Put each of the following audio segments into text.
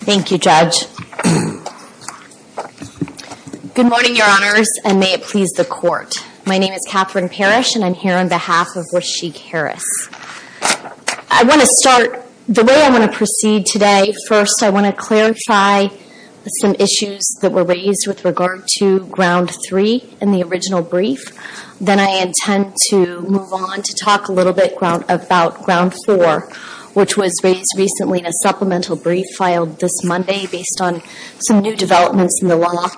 Thank you, Judge. Good morning, Your Honors, and may it please the Court. My name is Katherine Parrish, and I'm here on behalf of Rasheik Harris. I want to start, the way I want to proceed today, first I want to clarify some issues that were raised with regard to Ground 3 in the original brief. Then I intend to move on to talk a little bit about Ground 4, which was raised recently in a supplemental brief filed this Monday based on some new developments in the law.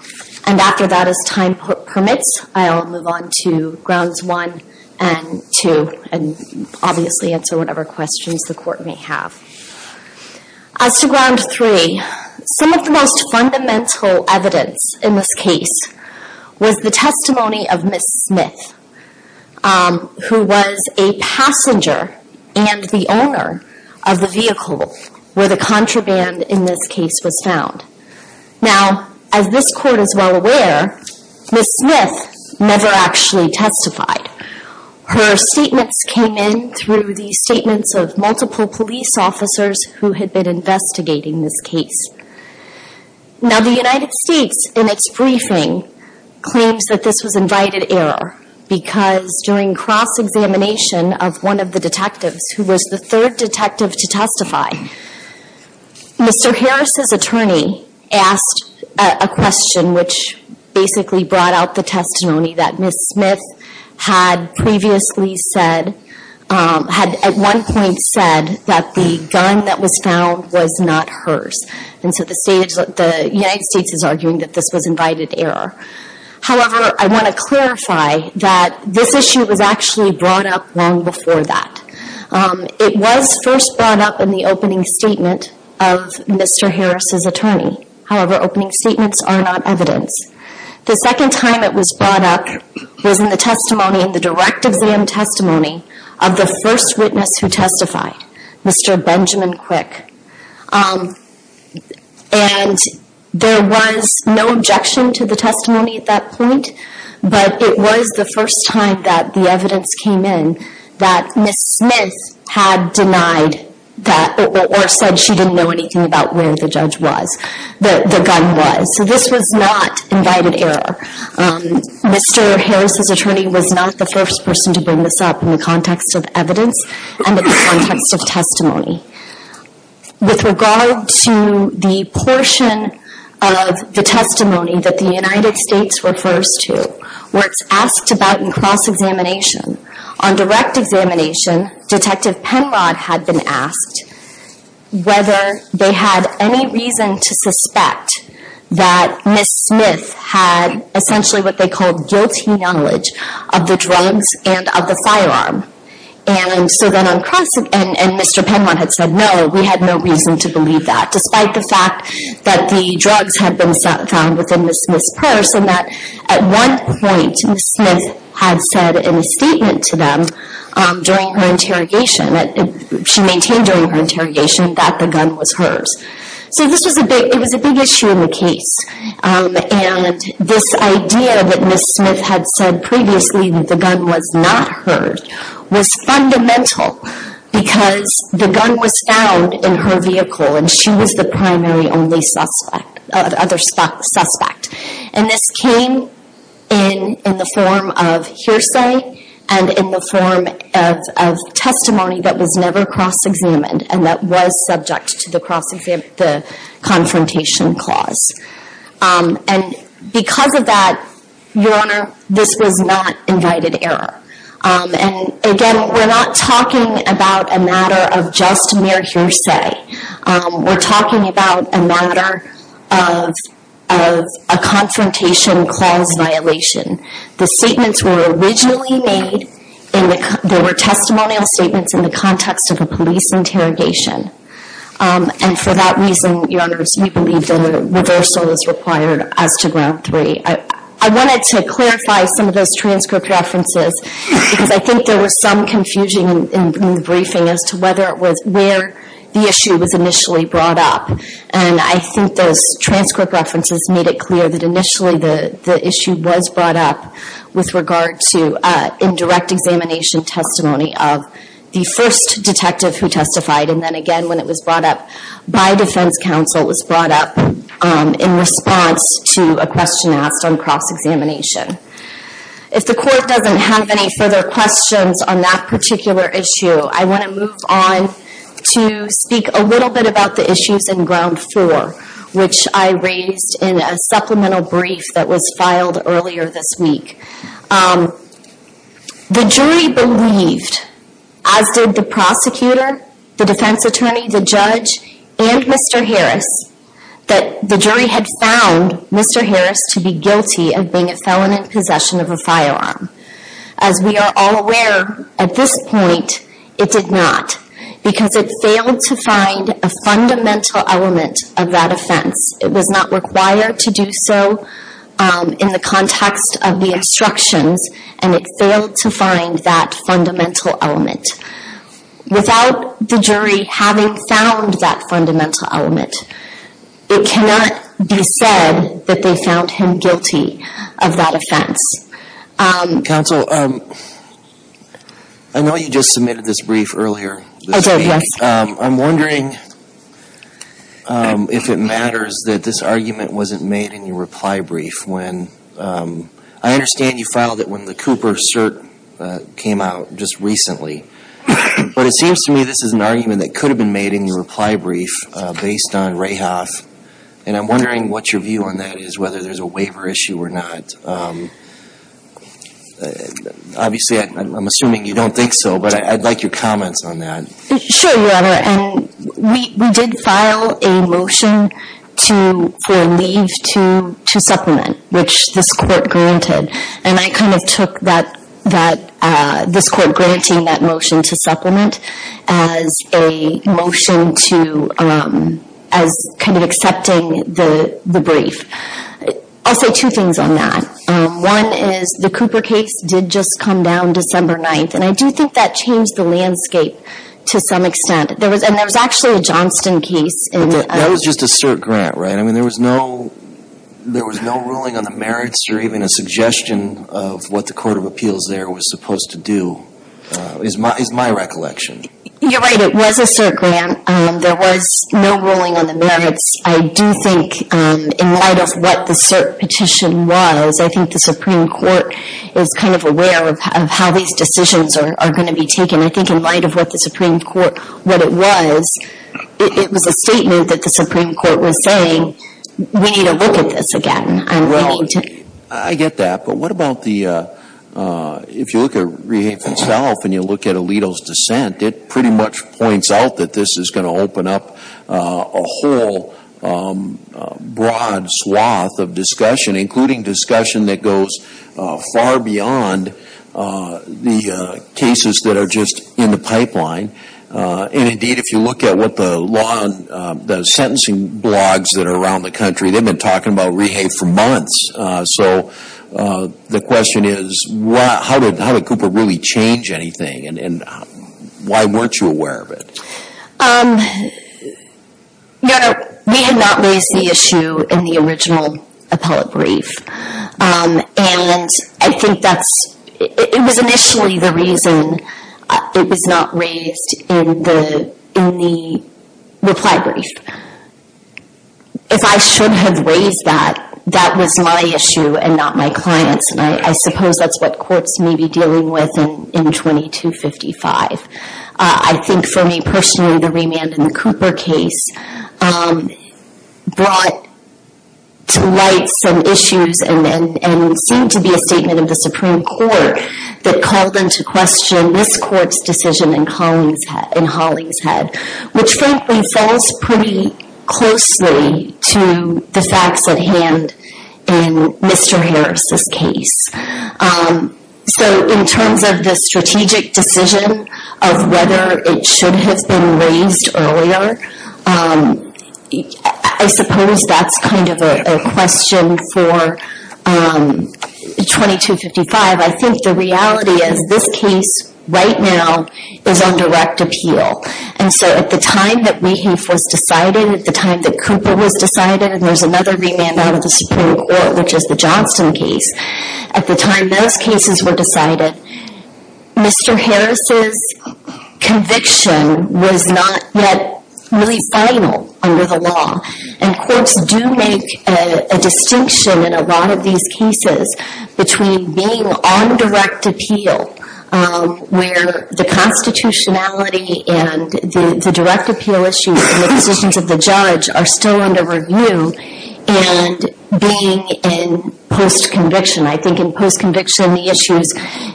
And after that, as time permits, I'll move on to Grounds 1 and 2 and obviously answer whatever questions the Court may have. As to Ground 3, some of the most fundamental evidence in this case was the testimony of the owner of the vehicle where the contraband in this case was found. Now, as this Court is well aware, Ms. Smith never actually testified. Her statements came in through the statements of multiple police officers who had been investigating this case. Now the United States, in its briefing, claims that this was invited error because during cross-examination of one of the detectives who was the third detective to testify, Mr. Harris' attorney asked a question which basically brought out the testimony that Ms. Smith had previously said, had at one point said, that the gun that was found was not hers. And so the United States is arguing that this was invited error. However, I want to clarify that this issue was actually brought up long before that. It was first brought up in the opening statement of Mr. Harris' attorney. However, opening statements are not evidence. The second time it was brought up was in the testimony, in the direct exam testimony, of the first witness who testified, Mr. Benjamin Quick. And there was no objection to the testimony at that point, but it was the first time that the evidence came in that Ms. Smith had denied that, or said she didn't know anything about where the judge was, the gun was. So this was not invited error. Mr. Harris' attorney was not the first person to bring this up in the context of evidence and in the context of testimony. With regard to the portion of the testimony that the United States refers to, where it's asked about in cross-examination, on direct examination, Detective Penrod had been asked whether they had any reason to suspect that Ms. Smith had essentially what And so then on cross-examination, Mr. Penrod had said, no, we had no reason to believe that, despite the fact that the drugs had been found within Ms. Smith's purse, and that at one point, Ms. Smith had said in a statement to them during her interrogation, she maintained during her interrogation, that the gun was hers. So this was a big issue in the case. And this idea that Ms. Smith had said previously that the gun was not hers, was fundamental because the gun was found in her vehicle and she was the primary only suspect, other suspect. And this came in the form of hearsay and in the form of testimony that was never cross-examined and that was subject to the confrontation clause. And because of that, Your Honor, this was not invited error. And again, we're not talking about a matter of just mere hearsay. We're talking about a matter of a confrontation clause violation. The statements were originally made in the, there were testimonial statements in the context of a police interrogation. And for that reason, Your Honors, we believe that a reversal is required as to ground three. I wanted to clarify some of those transcript references because I think there was some confusion in the briefing as to whether it was, where the issue was initially brought up. And I think those transcript references made it clear that initially the issue was brought up with regard to indirect examination testimony of the first detective who testified. And then again, when it was brought up by defense counsel, it was brought up in response to a question asked on cross-examination. If the court doesn't have any further questions on that particular issue, I want to move on to speak a little bit about the issues in a supplemental brief that was filed earlier this week. The jury believed, as did the prosecutor, the defense attorney, the judge, and Mr. Harris, that the jury had found Mr. Harris to be guilty of being a felon in possession of a firearm. As we are all aware, at this point, it did not because it failed to find a fundamental element of that offense. It was not required to do so in the context of the instructions, and it failed to find that fundamental element. Without the jury having found that fundamental element, it cannot be said that they found him guilty of that offense. Counsel, I know you just submitted this brief earlier this week. I'm wondering if it matters that this argument wasn't made in your reply brief. I understand you filed it when the Cooper cert came out just recently, but it seems to me this is an argument that could have been made in your reply brief based on Rahoff, and I'm wondering what your view on that is, whether there's a waiver issue or not. Obviously, I'm assuming you don't think so, but I'd like your comments on that. Sure, Your Honor, and we did file a motion for leave to supplement, which this court granted, and I kind of took this court granting that motion to supplement as a motion to, as kind of accepting the brief. I'll say two things on that. One is the Cooper case did just come down December 9th, and I do think that changed the landscape to some extent. And there was actually a Johnston case in That was just a cert grant, right? I mean, there was no ruling on the merits or even a suggestion of what the Court of Appeals there was supposed to do, is my recollection. You're right, it was a cert grant. There was no ruling on the merits. I do think in light of what the cert petition was, I think the Supreme Court is kind of aware of how these decisions are going to be taken. I think in light of what the Supreme Court, what it was, it was a statement that the Supreme Court was saying, we need to look at this again. Right, I get that, but what about the, if you look at Rahoff himself and you look at it, it pretty much points out that this is going to open up a whole broad swath of discussion, including discussion that goes far beyond the cases that are just in the pipeline. And indeed, if you look at what the law, the sentencing blogs that are around the country, they've been talking about Reha for months. So the question is, how did Cooper really change anything, and why weren't you aware of it? No, no, we had not raised the issue in the original appellate brief. And I think that's, it was initially the reason it was not raised in the reply brief. If I should have raised that, that was my issue and not my client's. And I suppose that's what courts may be dealing with in 2255. I think for me personally, the remand in the Cooper case brought to light some issues and seemed to be a statement of the Supreme Court that called into question this Court's decision in Hollingshead, which frankly falls pretty closely to the facts at hand in Mr. Harris's case. So in terms of the strategic decision of whether it should have been raised earlier, I suppose that's kind of a question for 2255. I think the reality is this case right now is on direct appeal. And so at the time that Reha was decided, at the time that Cooper was decided, and there's another remand out of the Supreme Court, which is the Johnston case, at the time those cases were decided, Mr. Harris's conviction was not yet really final under the law. And courts do make a distinction in a lot of these cases between being on direct appeal, where the constitutionality and the direct appeal issues and the positions of the judge are still under review, and being in post-conviction. I think in post-conviction the issues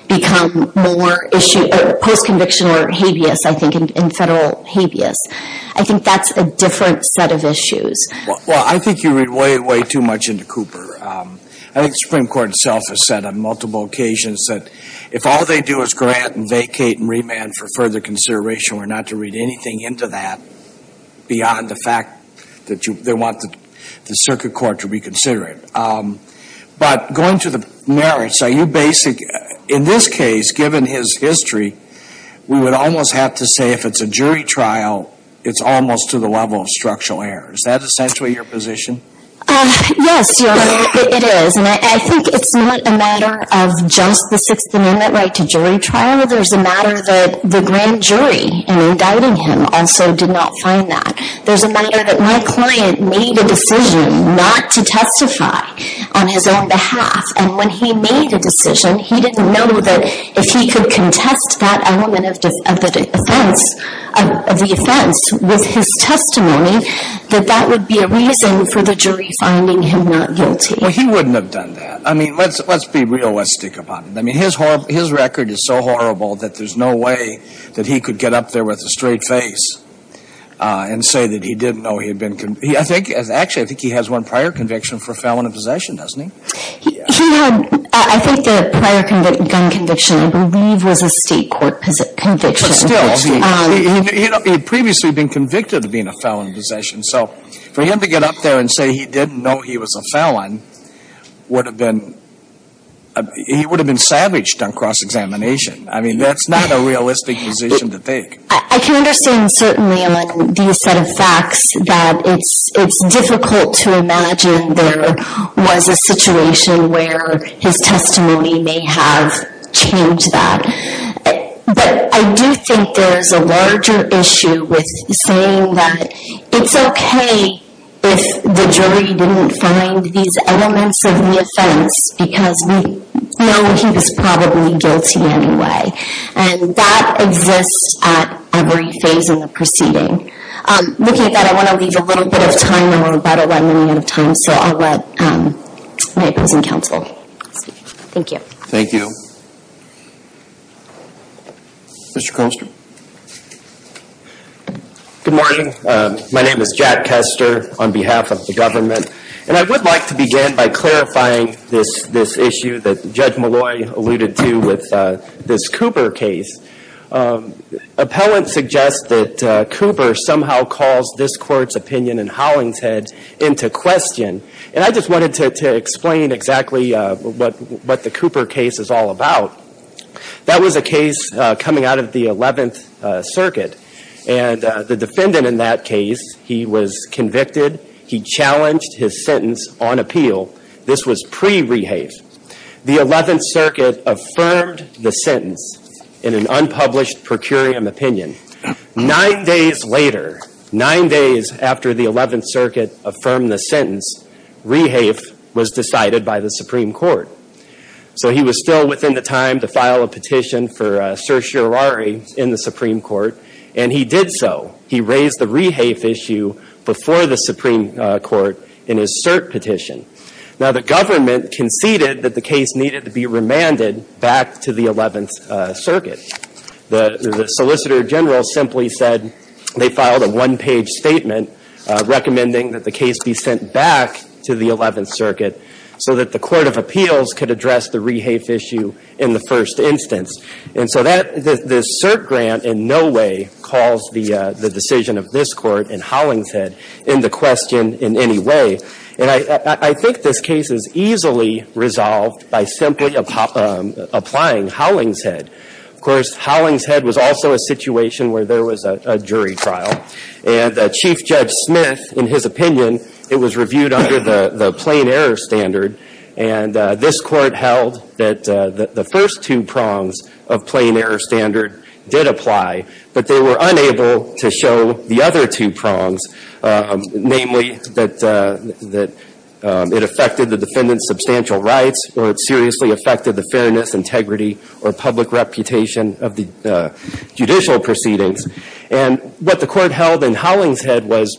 become more issue, post-conviction or habeas, I think, in federal habeas. I think that's a different set of issues. Well, I think you read way, way too much into Cooper. I think the Supreme Court itself has said on multiple occasions that if all they do is grant and vacate and remand for further consideration, we're not to read anything into that beyond the fact that they want the circuit court to reconsider it. But going to the merits, are you basic, in this case, given his history, we would almost have to say if it's a jury trial, it's almost to the level of structural error. Is that essentially your position? Yes, Your Honor, it is. And I think it's not a matter of just the Sixth Amendment right to jury trial. There's a matter that the grand jury, in indicting him, also did not find that. There's a matter that my client made a decision not to testify on his own behalf. And when he made a decision, he didn't know that if he could contest that element of the offense with his testimony, that that would be a reason for the jury finding him not guilty. Well, he wouldn't have done that. I mean, let's be realistic about it. I mean, his record is so horrible that there's no way that he could get up there with a straight face and say that he didn't know he had been convicted. Actually, I think he has one prior conviction for felon of possession, doesn't he? He had, I think the prior gun conviction, I believe, was a state court conviction. But still, he had previously been convicted of being a felon of possession. So for him to get up there and say he didn't know he was a felon would have been, he would have been savaged on cross-examination. I mean, that's not a realistic position to take. I can understand certainly on these set of facts that it's difficult to imagine there was a situation where his testimony may have changed that. But I do think there's a larger issue with saying that it's okay if the jury didn't find these elements of the offense because we know he was probably guilty anyway. And that exists at every phase in the proceeding. Looking at that, I want to leave a little bit of time and we're about to run out of time. So I'll let my opposing counsel speak. Thank you. Thank you. Mr. Koster. Good morning. My name is Jack Koster on behalf of the government. And I would like to begin by clarifying this issue that Judge Malloy alluded to with this Cooper case. Appellants suggest that Cooper somehow calls this Court's opinion in Hollingshead into question. And I just wanted to explain exactly what the Cooper case is all about. That was a case coming out of the 11th Circuit. And the defendant in that case, he was convicted. He challenged his sentence on appeal. This was pre-rehave. The 11th Circuit affirmed the sentence in an unpublished procurium opinion. Nine days later, nine days after the 11th Circuit affirmed the sentence, rehave was decided by the Supreme Court. So he was still within the time to file a petition for certiorari in the Supreme Court. And he did so. He raised the rehave issue before the Supreme Court in his cert petition. Now, the government conceded that the case needed to be remanded back to the 11th Circuit. The solicitor general simply said they filed a one-page statement recommending that the case be sent back to the 11th Circuit so that the Court of Appeals could address the rehave issue in the first instance. And so that, this cert grant in no way calls the decision of this Court in Hollingshead into question in any way. And I think this case is easily resolved by simply applying Hollingshead. Of course, Hollingshead was also a situation where there was a jury trial. And Chief Judge Smith, in his opinion, it was reviewed under the plain error standard. And this Court held that the first two prongs of plain error standard did apply. But they were unable to show the other two prongs, namely that it affected the defendant's substantial rights or it seriously affected the fairness, integrity, or public reputation of the judicial proceedings. And what the Court held in Hollingshead was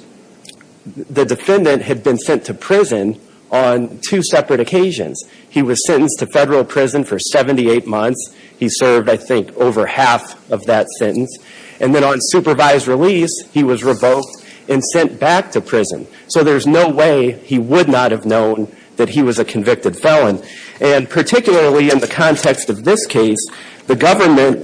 the defendant had been sent to prison on two separate occasions. He was sentenced to Federal prison for 78 months. He served, I think, over half of that sentence. And then on supervised release, he was revoked and sent back to prison. So there's no way he would not have known that he was a convicted felon. And particularly in the context of this case, the government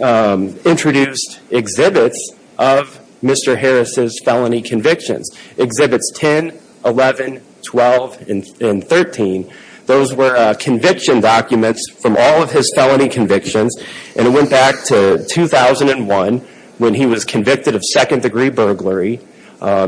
introduced exhibits of Mr. Harris' felony convictions. Exhibits 10, 11, 12, and 13. Those were conviction documents from all of his felony convictions. And it went back to 2001 when he was convicted of second-degree burglary.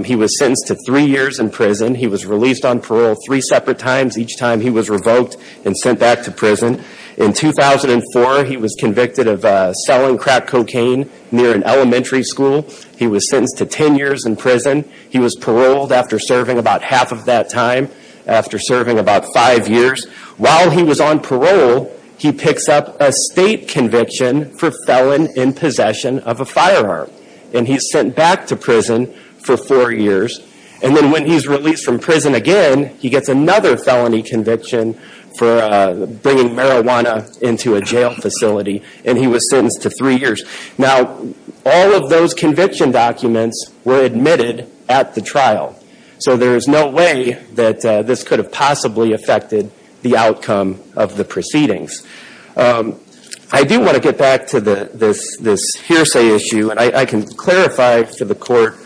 He was sentenced to three years in prison. He was released on parole three separate times each time he was revoked and sent back to prison. In 2004, he was convicted of selling crack cocaine near an elementary school. He was sentenced to 10 years in prison. He was paroled after serving about half of that time, after serving about five years. While he was on parole, he picks up a state conviction for felon in possession of a firearm. And he's sent back to prison for four years. And then when he's released from prison again, he gets another felony conviction for bringing marijuana into a jail facility. And he was sentenced to three years. Now, all of those conviction documents were admitted at the trial. So there is no way that this could have possibly affected the outcome of the proceedings. I do want to get back to this hearsay issue. And I can clarify for the Court,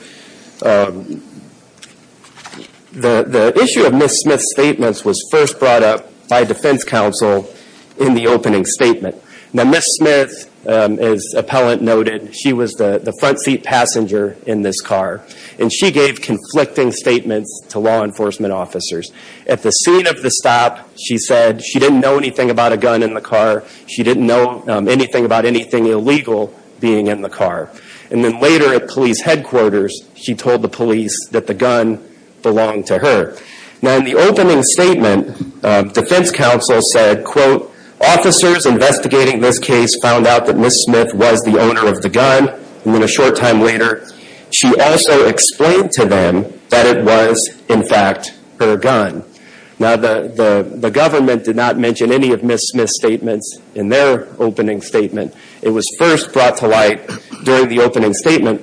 the issue of Ms. Smith's statements was first brought up by defense counsel in the opening statement. Now, Ms. Smith, as appellant noted, she was the front seat passenger in this car. And she gave conflicting statements to law enforcement officers. At the scene of the stop, she said she didn't know anything about a gun in the car. She didn't know anything about anything illegal being in the car. And then later at police headquarters, she told the police that the gun belonged to her. Now, in the opening statement, defense counsel said, quote, officers investigating this case found out that Ms. Smith was the owner of the gun. And then a short time later, she also explained to them that it was, in fact, her gun. Now, the government did not mention any of Ms. Smith's statements in their opening statement. It was first brought to light during the opening statement.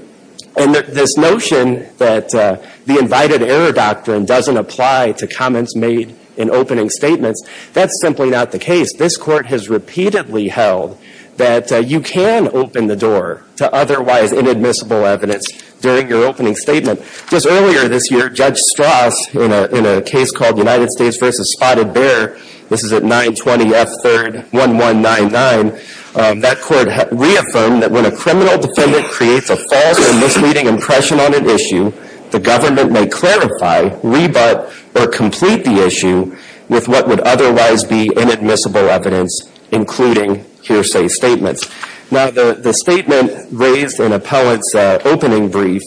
And this notion that the invited error doctrine doesn't apply to comments made in opening statements, that's simply not the case. This Court has repeatedly held that you can open the door to otherwise inadmissible evidence during your opening statement. Just earlier this year, Judge Strauss, in a case called United States v. Spotted Bear, this is at 920 F. 3rd 1199, that Court reaffirmed that when a criminal defendant creates a false or misleading impression on an issue, the government may clarify, rebut, or complete the issue with what would otherwise be inadmissible evidence, including hearsay statements. Now, the statement raised in appellant's opening brief,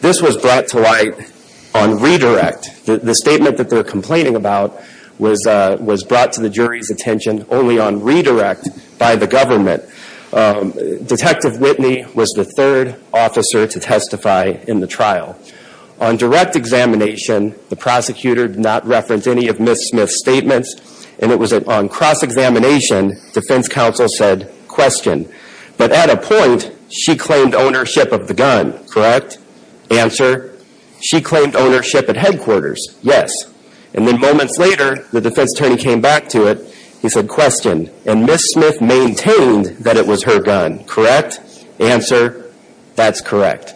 this was brought to light on redirect. The statement that they're complaining about was brought to the jury's attention only on redirect by the government. Detective Whitney was the third officer to testify in the trial. On direct examination, the prosecutor did not reference any of Ms. Smith's statements. And it was on cross-examination, defense counsel said, question. But at a point, she claimed ownership of the gun, correct? Answer, she claimed ownership at headquarters, yes. And then moments later, the defense attorney came back to it, he said, question. And Ms. Smith maintained that it was her gun, correct? Answer, that's correct.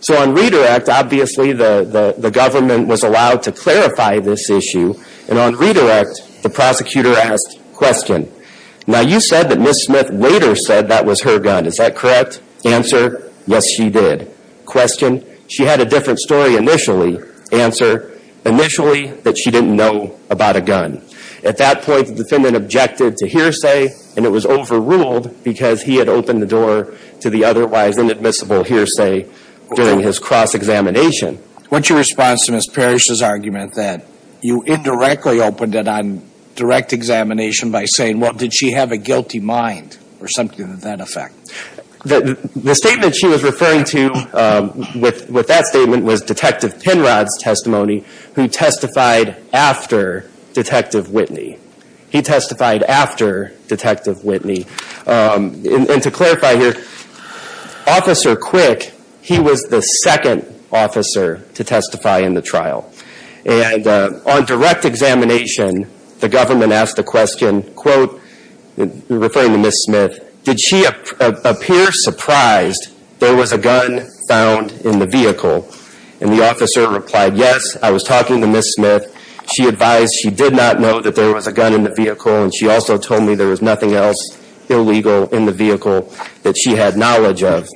So on redirect, obviously the government was allowed to clarify this issue. And on redirect, the prosecutor asked, question. Now you said that Ms. Smith later said that was her gun, is that correct? Answer, yes she did. Question, she had a different story initially. Answer, initially that she didn't know about a gun. At that point, the defendant objected to hearsay and it was overruled because he had opened the door to the otherwise inadmissible hearsay during his cross-examination. What's your response to Ms. Parrish's argument that you indirectly opened it on direct examination by saying, well, did she have a guilty mind or something to that effect? The statement she was referring to with that statement was Detective Penrod's testimony, who testified after Detective Whitney. He testified after Detective Whitney. And to clarify here, Officer Quick, he was the second officer to testify in the trial. And on direct examination, the government asked the question, quote, referring to Ms. Smith, did she appear surprised there was a gun found in the vehicle? And the officer replied, yes, I was talking to Ms. Smith. She advised she did not know that there was a gun in the vehicle and she also told me there was nothing else illegal in the vehicle that she had knowledge of.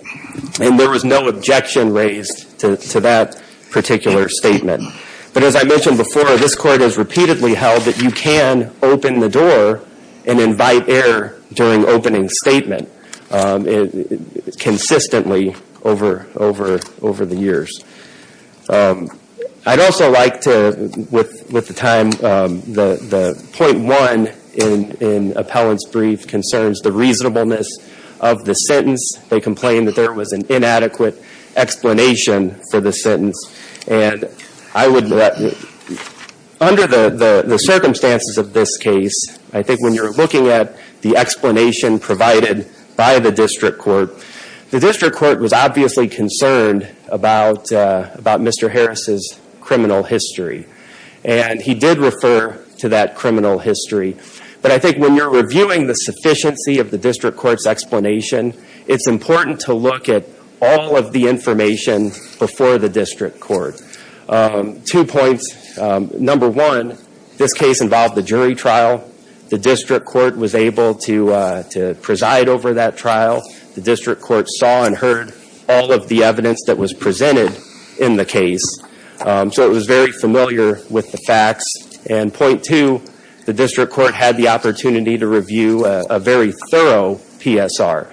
And there was no objection raised to that particular statement. But as I mentioned before, this Court has repeatedly held that you can open the door and invite error during opening statement consistently over the years. I'd also like to, with the time, the point one in Appellant's brief concerns the reasonableness of the sentence. They complained that there was an inadequate explanation for the sentence. And I would, under the circumstances of this case, I think when you're looking at the explanation provided by the District Court, the District Court was obviously concerned about Mr. Harris' criminal history. And he did refer to that criminal history. But I think when you're reviewing the sufficiency of the District Court's explanation, it's important to look at all of the information before the District Court. Two points. Number one, this case involved a jury trial. The District Court was able to preside over that trial. The District Court saw and heard all of the evidence that was presented in the case. So it was very familiar with the facts. And point two, the District Court had the opportunity to review a very thorough PSR.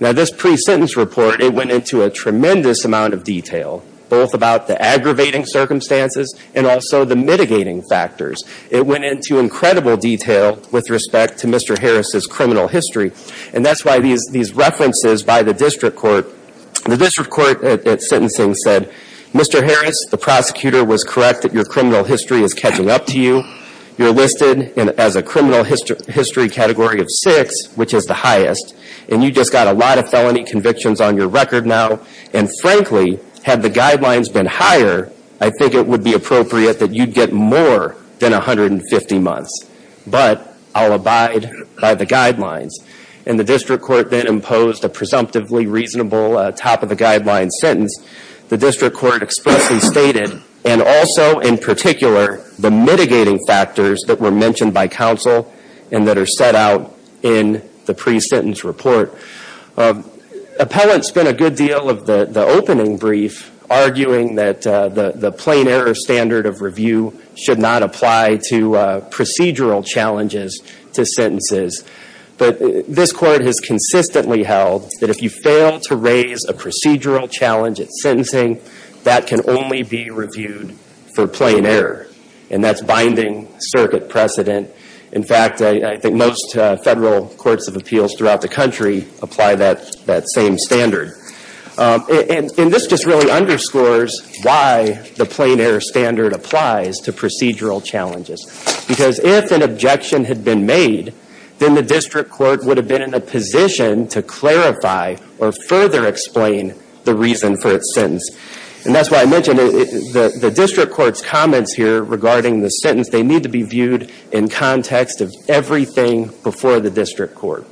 Now, this pre-sentence report, it went into a tremendous amount of detail, both about the aggravating circumstances and also the mitigating factors. It went into incredible detail with respect to Mr. Harris' criminal history. And that's why these references by the District Court, the District Court at sentencing said, Mr. Harris, the prosecutor was correct that your criminal history is catching up to you. You're listed as a criminal history category of six, which is the highest. And you just got a lot of felony convictions on your record now. And frankly, had the guidelines been higher, I think it would be appropriate that you'd get more than 150 months. But I'll abide by the guidelines. And the District Court then imposed a presumptively reasonable top-of-the-guidelines sentence. The District Court expressly stated, and also in particular, the mitigating factors that were mentioned by counsel and that are set out in the pre-sentence report. Appellants spent a good deal of the opening brief arguing that the plain error standard of review should not apply to procedural challenges to sentences. But this Court has consistently held that if you fail to raise a procedural challenge at sentencing, that can only be reviewed for plain error. And that's binding circuit precedent. In fact, I think most federal courts of appeals throughout the country apply that same standard. And this just really underscores why the plain error standard applies to procedural challenges. Because if an objection had been made, then the District Court would have been in a position to clarify or further explain the reason for its sentence. And that's why I mentioned the District Court's comments here regarding the sentence. They need to be viewed in context of everything before the District Court.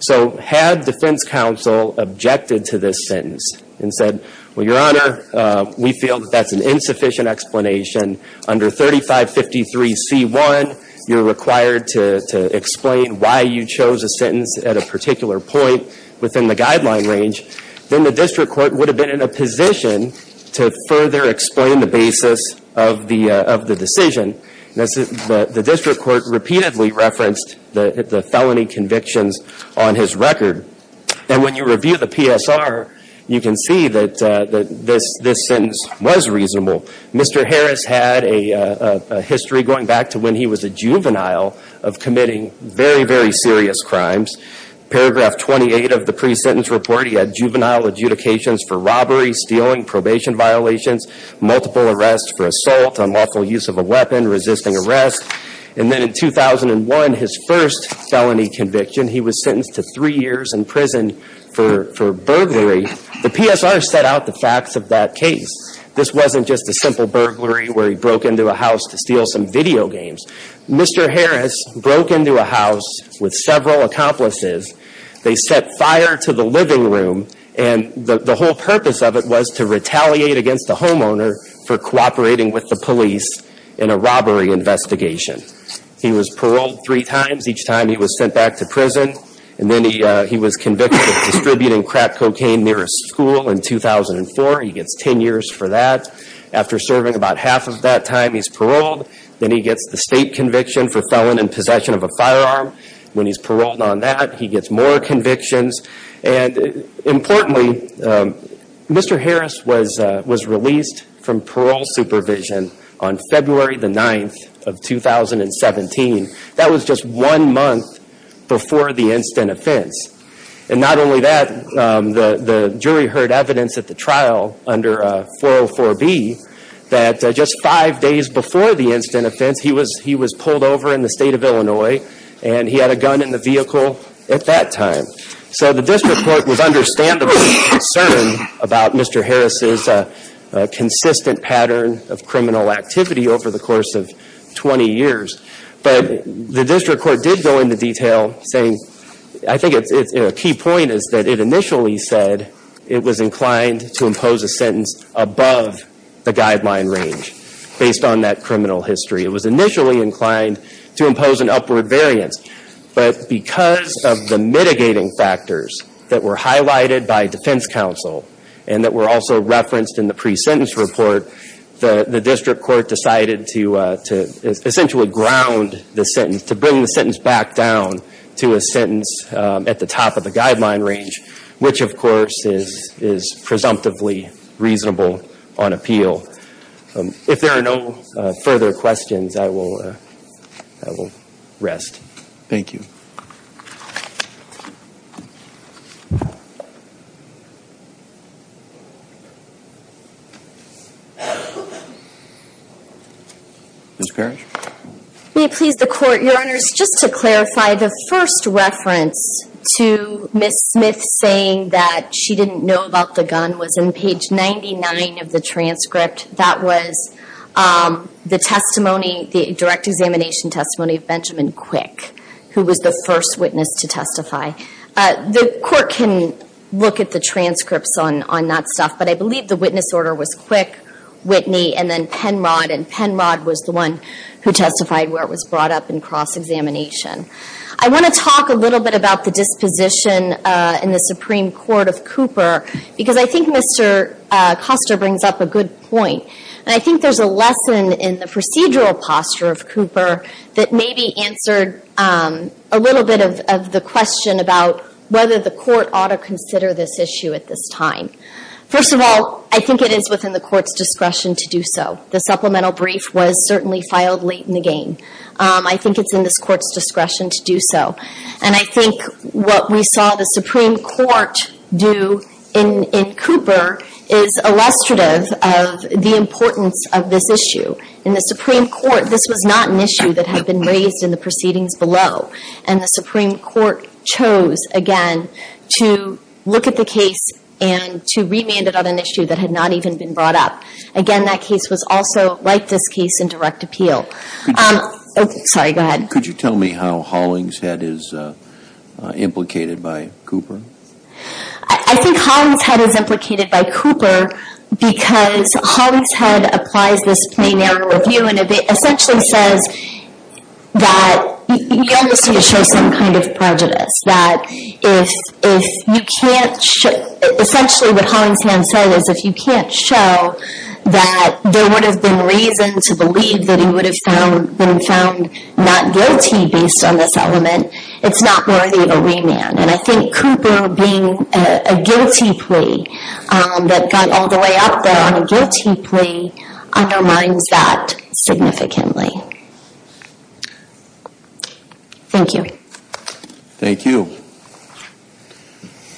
So had defense counsel objected to this sentence and said, well, Your Honor, we feel that that's an insufficient explanation. Under 3553C1, you're required to explain why you chose a sentence at a particular point within the guideline range. Then the District Court would have been in a position to further explain the basis of the decision. The District Court repeatedly referenced the felony convictions on his record. And when you review the PSR, you can see that this sentence was reasonable. Mr. Harris had a history going back to when he was a juvenile of committing very, very serious crimes. Paragraph 28 of the pre-sentence report, he had juvenile adjudications for robbery, stealing, probation violations, multiple arrests for assault, unlawful use of a weapon, resisting arrest. And then in 2001, his first felony conviction, he was sentenced to three years in prison for burglary. The PSR set out the facts of that case. This wasn't just a simple burglary where he broke into a house to steal some video games. Mr. Harris broke into a house with several accomplices. They set fire to the living room. And the whole purpose of it was to retaliate against the homeowner for cooperating with the police in a robbery investigation. He was paroled three times. Each time, he was sent back to prison. And then he was convicted of distributing crack cocaine near a school in 2004. He gets 10 years for that. After serving about half of that time, he's paroled. Then he gets the state conviction for felon in possession of a firearm. When he's paroled on that, he gets more convictions. And importantly, Mr. Harris was released from parole supervision on February the 9th of 2017. That was just one month before the instant offense. And not only that, the jury heard evidence at the trial under 404B that just five days before the instant offense, he was pulled over in the state of Illinois. And he had a gun in the vehicle at that time. So the district court was understandably concerned about Mr. Harris' consistent pattern of criminal activity over the course of 20 years. But the district court did go into detail saying, I think a key point is that it initially said it was inclined to impose a sentence above the guideline range based on that criminal history. It was initially inclined to impose an upward variance. But because of the mitigating factors that were highlighted by defense counsel and that were also referenced in the pre-sentence report, the district court decided to essentially ground the sentence, to bring the sentence back down to a sentence at the top of the guideline range, which of course is presumptively reasonable on appeal. If there are no further questions, I will rest. Thank you. Ms. Parrish? May it please the Court, Your Honors, just to clarify, the first reference to Ms. Smith saying that she didn't know about the gun was in page 99 of the transcript. That was the direct examination testimony of Benjamin Quick, who was the first witness to testify. The Court can look at the transcripts on that stuff, but I believe the witness order was Quick, Whitney, and then Penrod. And Penrod was the one who testified where it was brought up in cross-examination. I want to talk a little bit about the disposition in the Supreme Court of Cooper, because I think Mr. Costa brings up a good point, and I think there's a lesson in the procedural posture of Cooper that maybe answered a little bit of the question about whether the Court ought to consider this issue at this time. First of all, I think it is within the Court's discretion to do so. The supplemental brief was certainly filed late in the game. I think it's in this Court's discretion to do so. And I think what we saw the Supreme Court do in Cooper is illustrative of the importance of this issue. In the Supreme Court, this was not an issue that had been raised in the proceedings below. And the Supreme Court chose, again, to look at the case and to remand it on an issue that had not even been brought up. Again, that case was also, like this case, in direct appeal. Sorry, go ahead. Could you tell me how Hollingshead is implicated by Cooper? I think Hollingshead is implicated by Cooper because Hollingshead applies this plain error review and it essentially says that he only seems to show some kind of prejudice, that if you can't show – essentially what Hollingshead said is if you can't show that there would have been reason to believe that he would have been found not guilty based on this element, it's not worthy of a remand. And I think Cooper being a guilty plea that got all the way up there on a guilty plea undermines that significantly. Thank you. Thank you.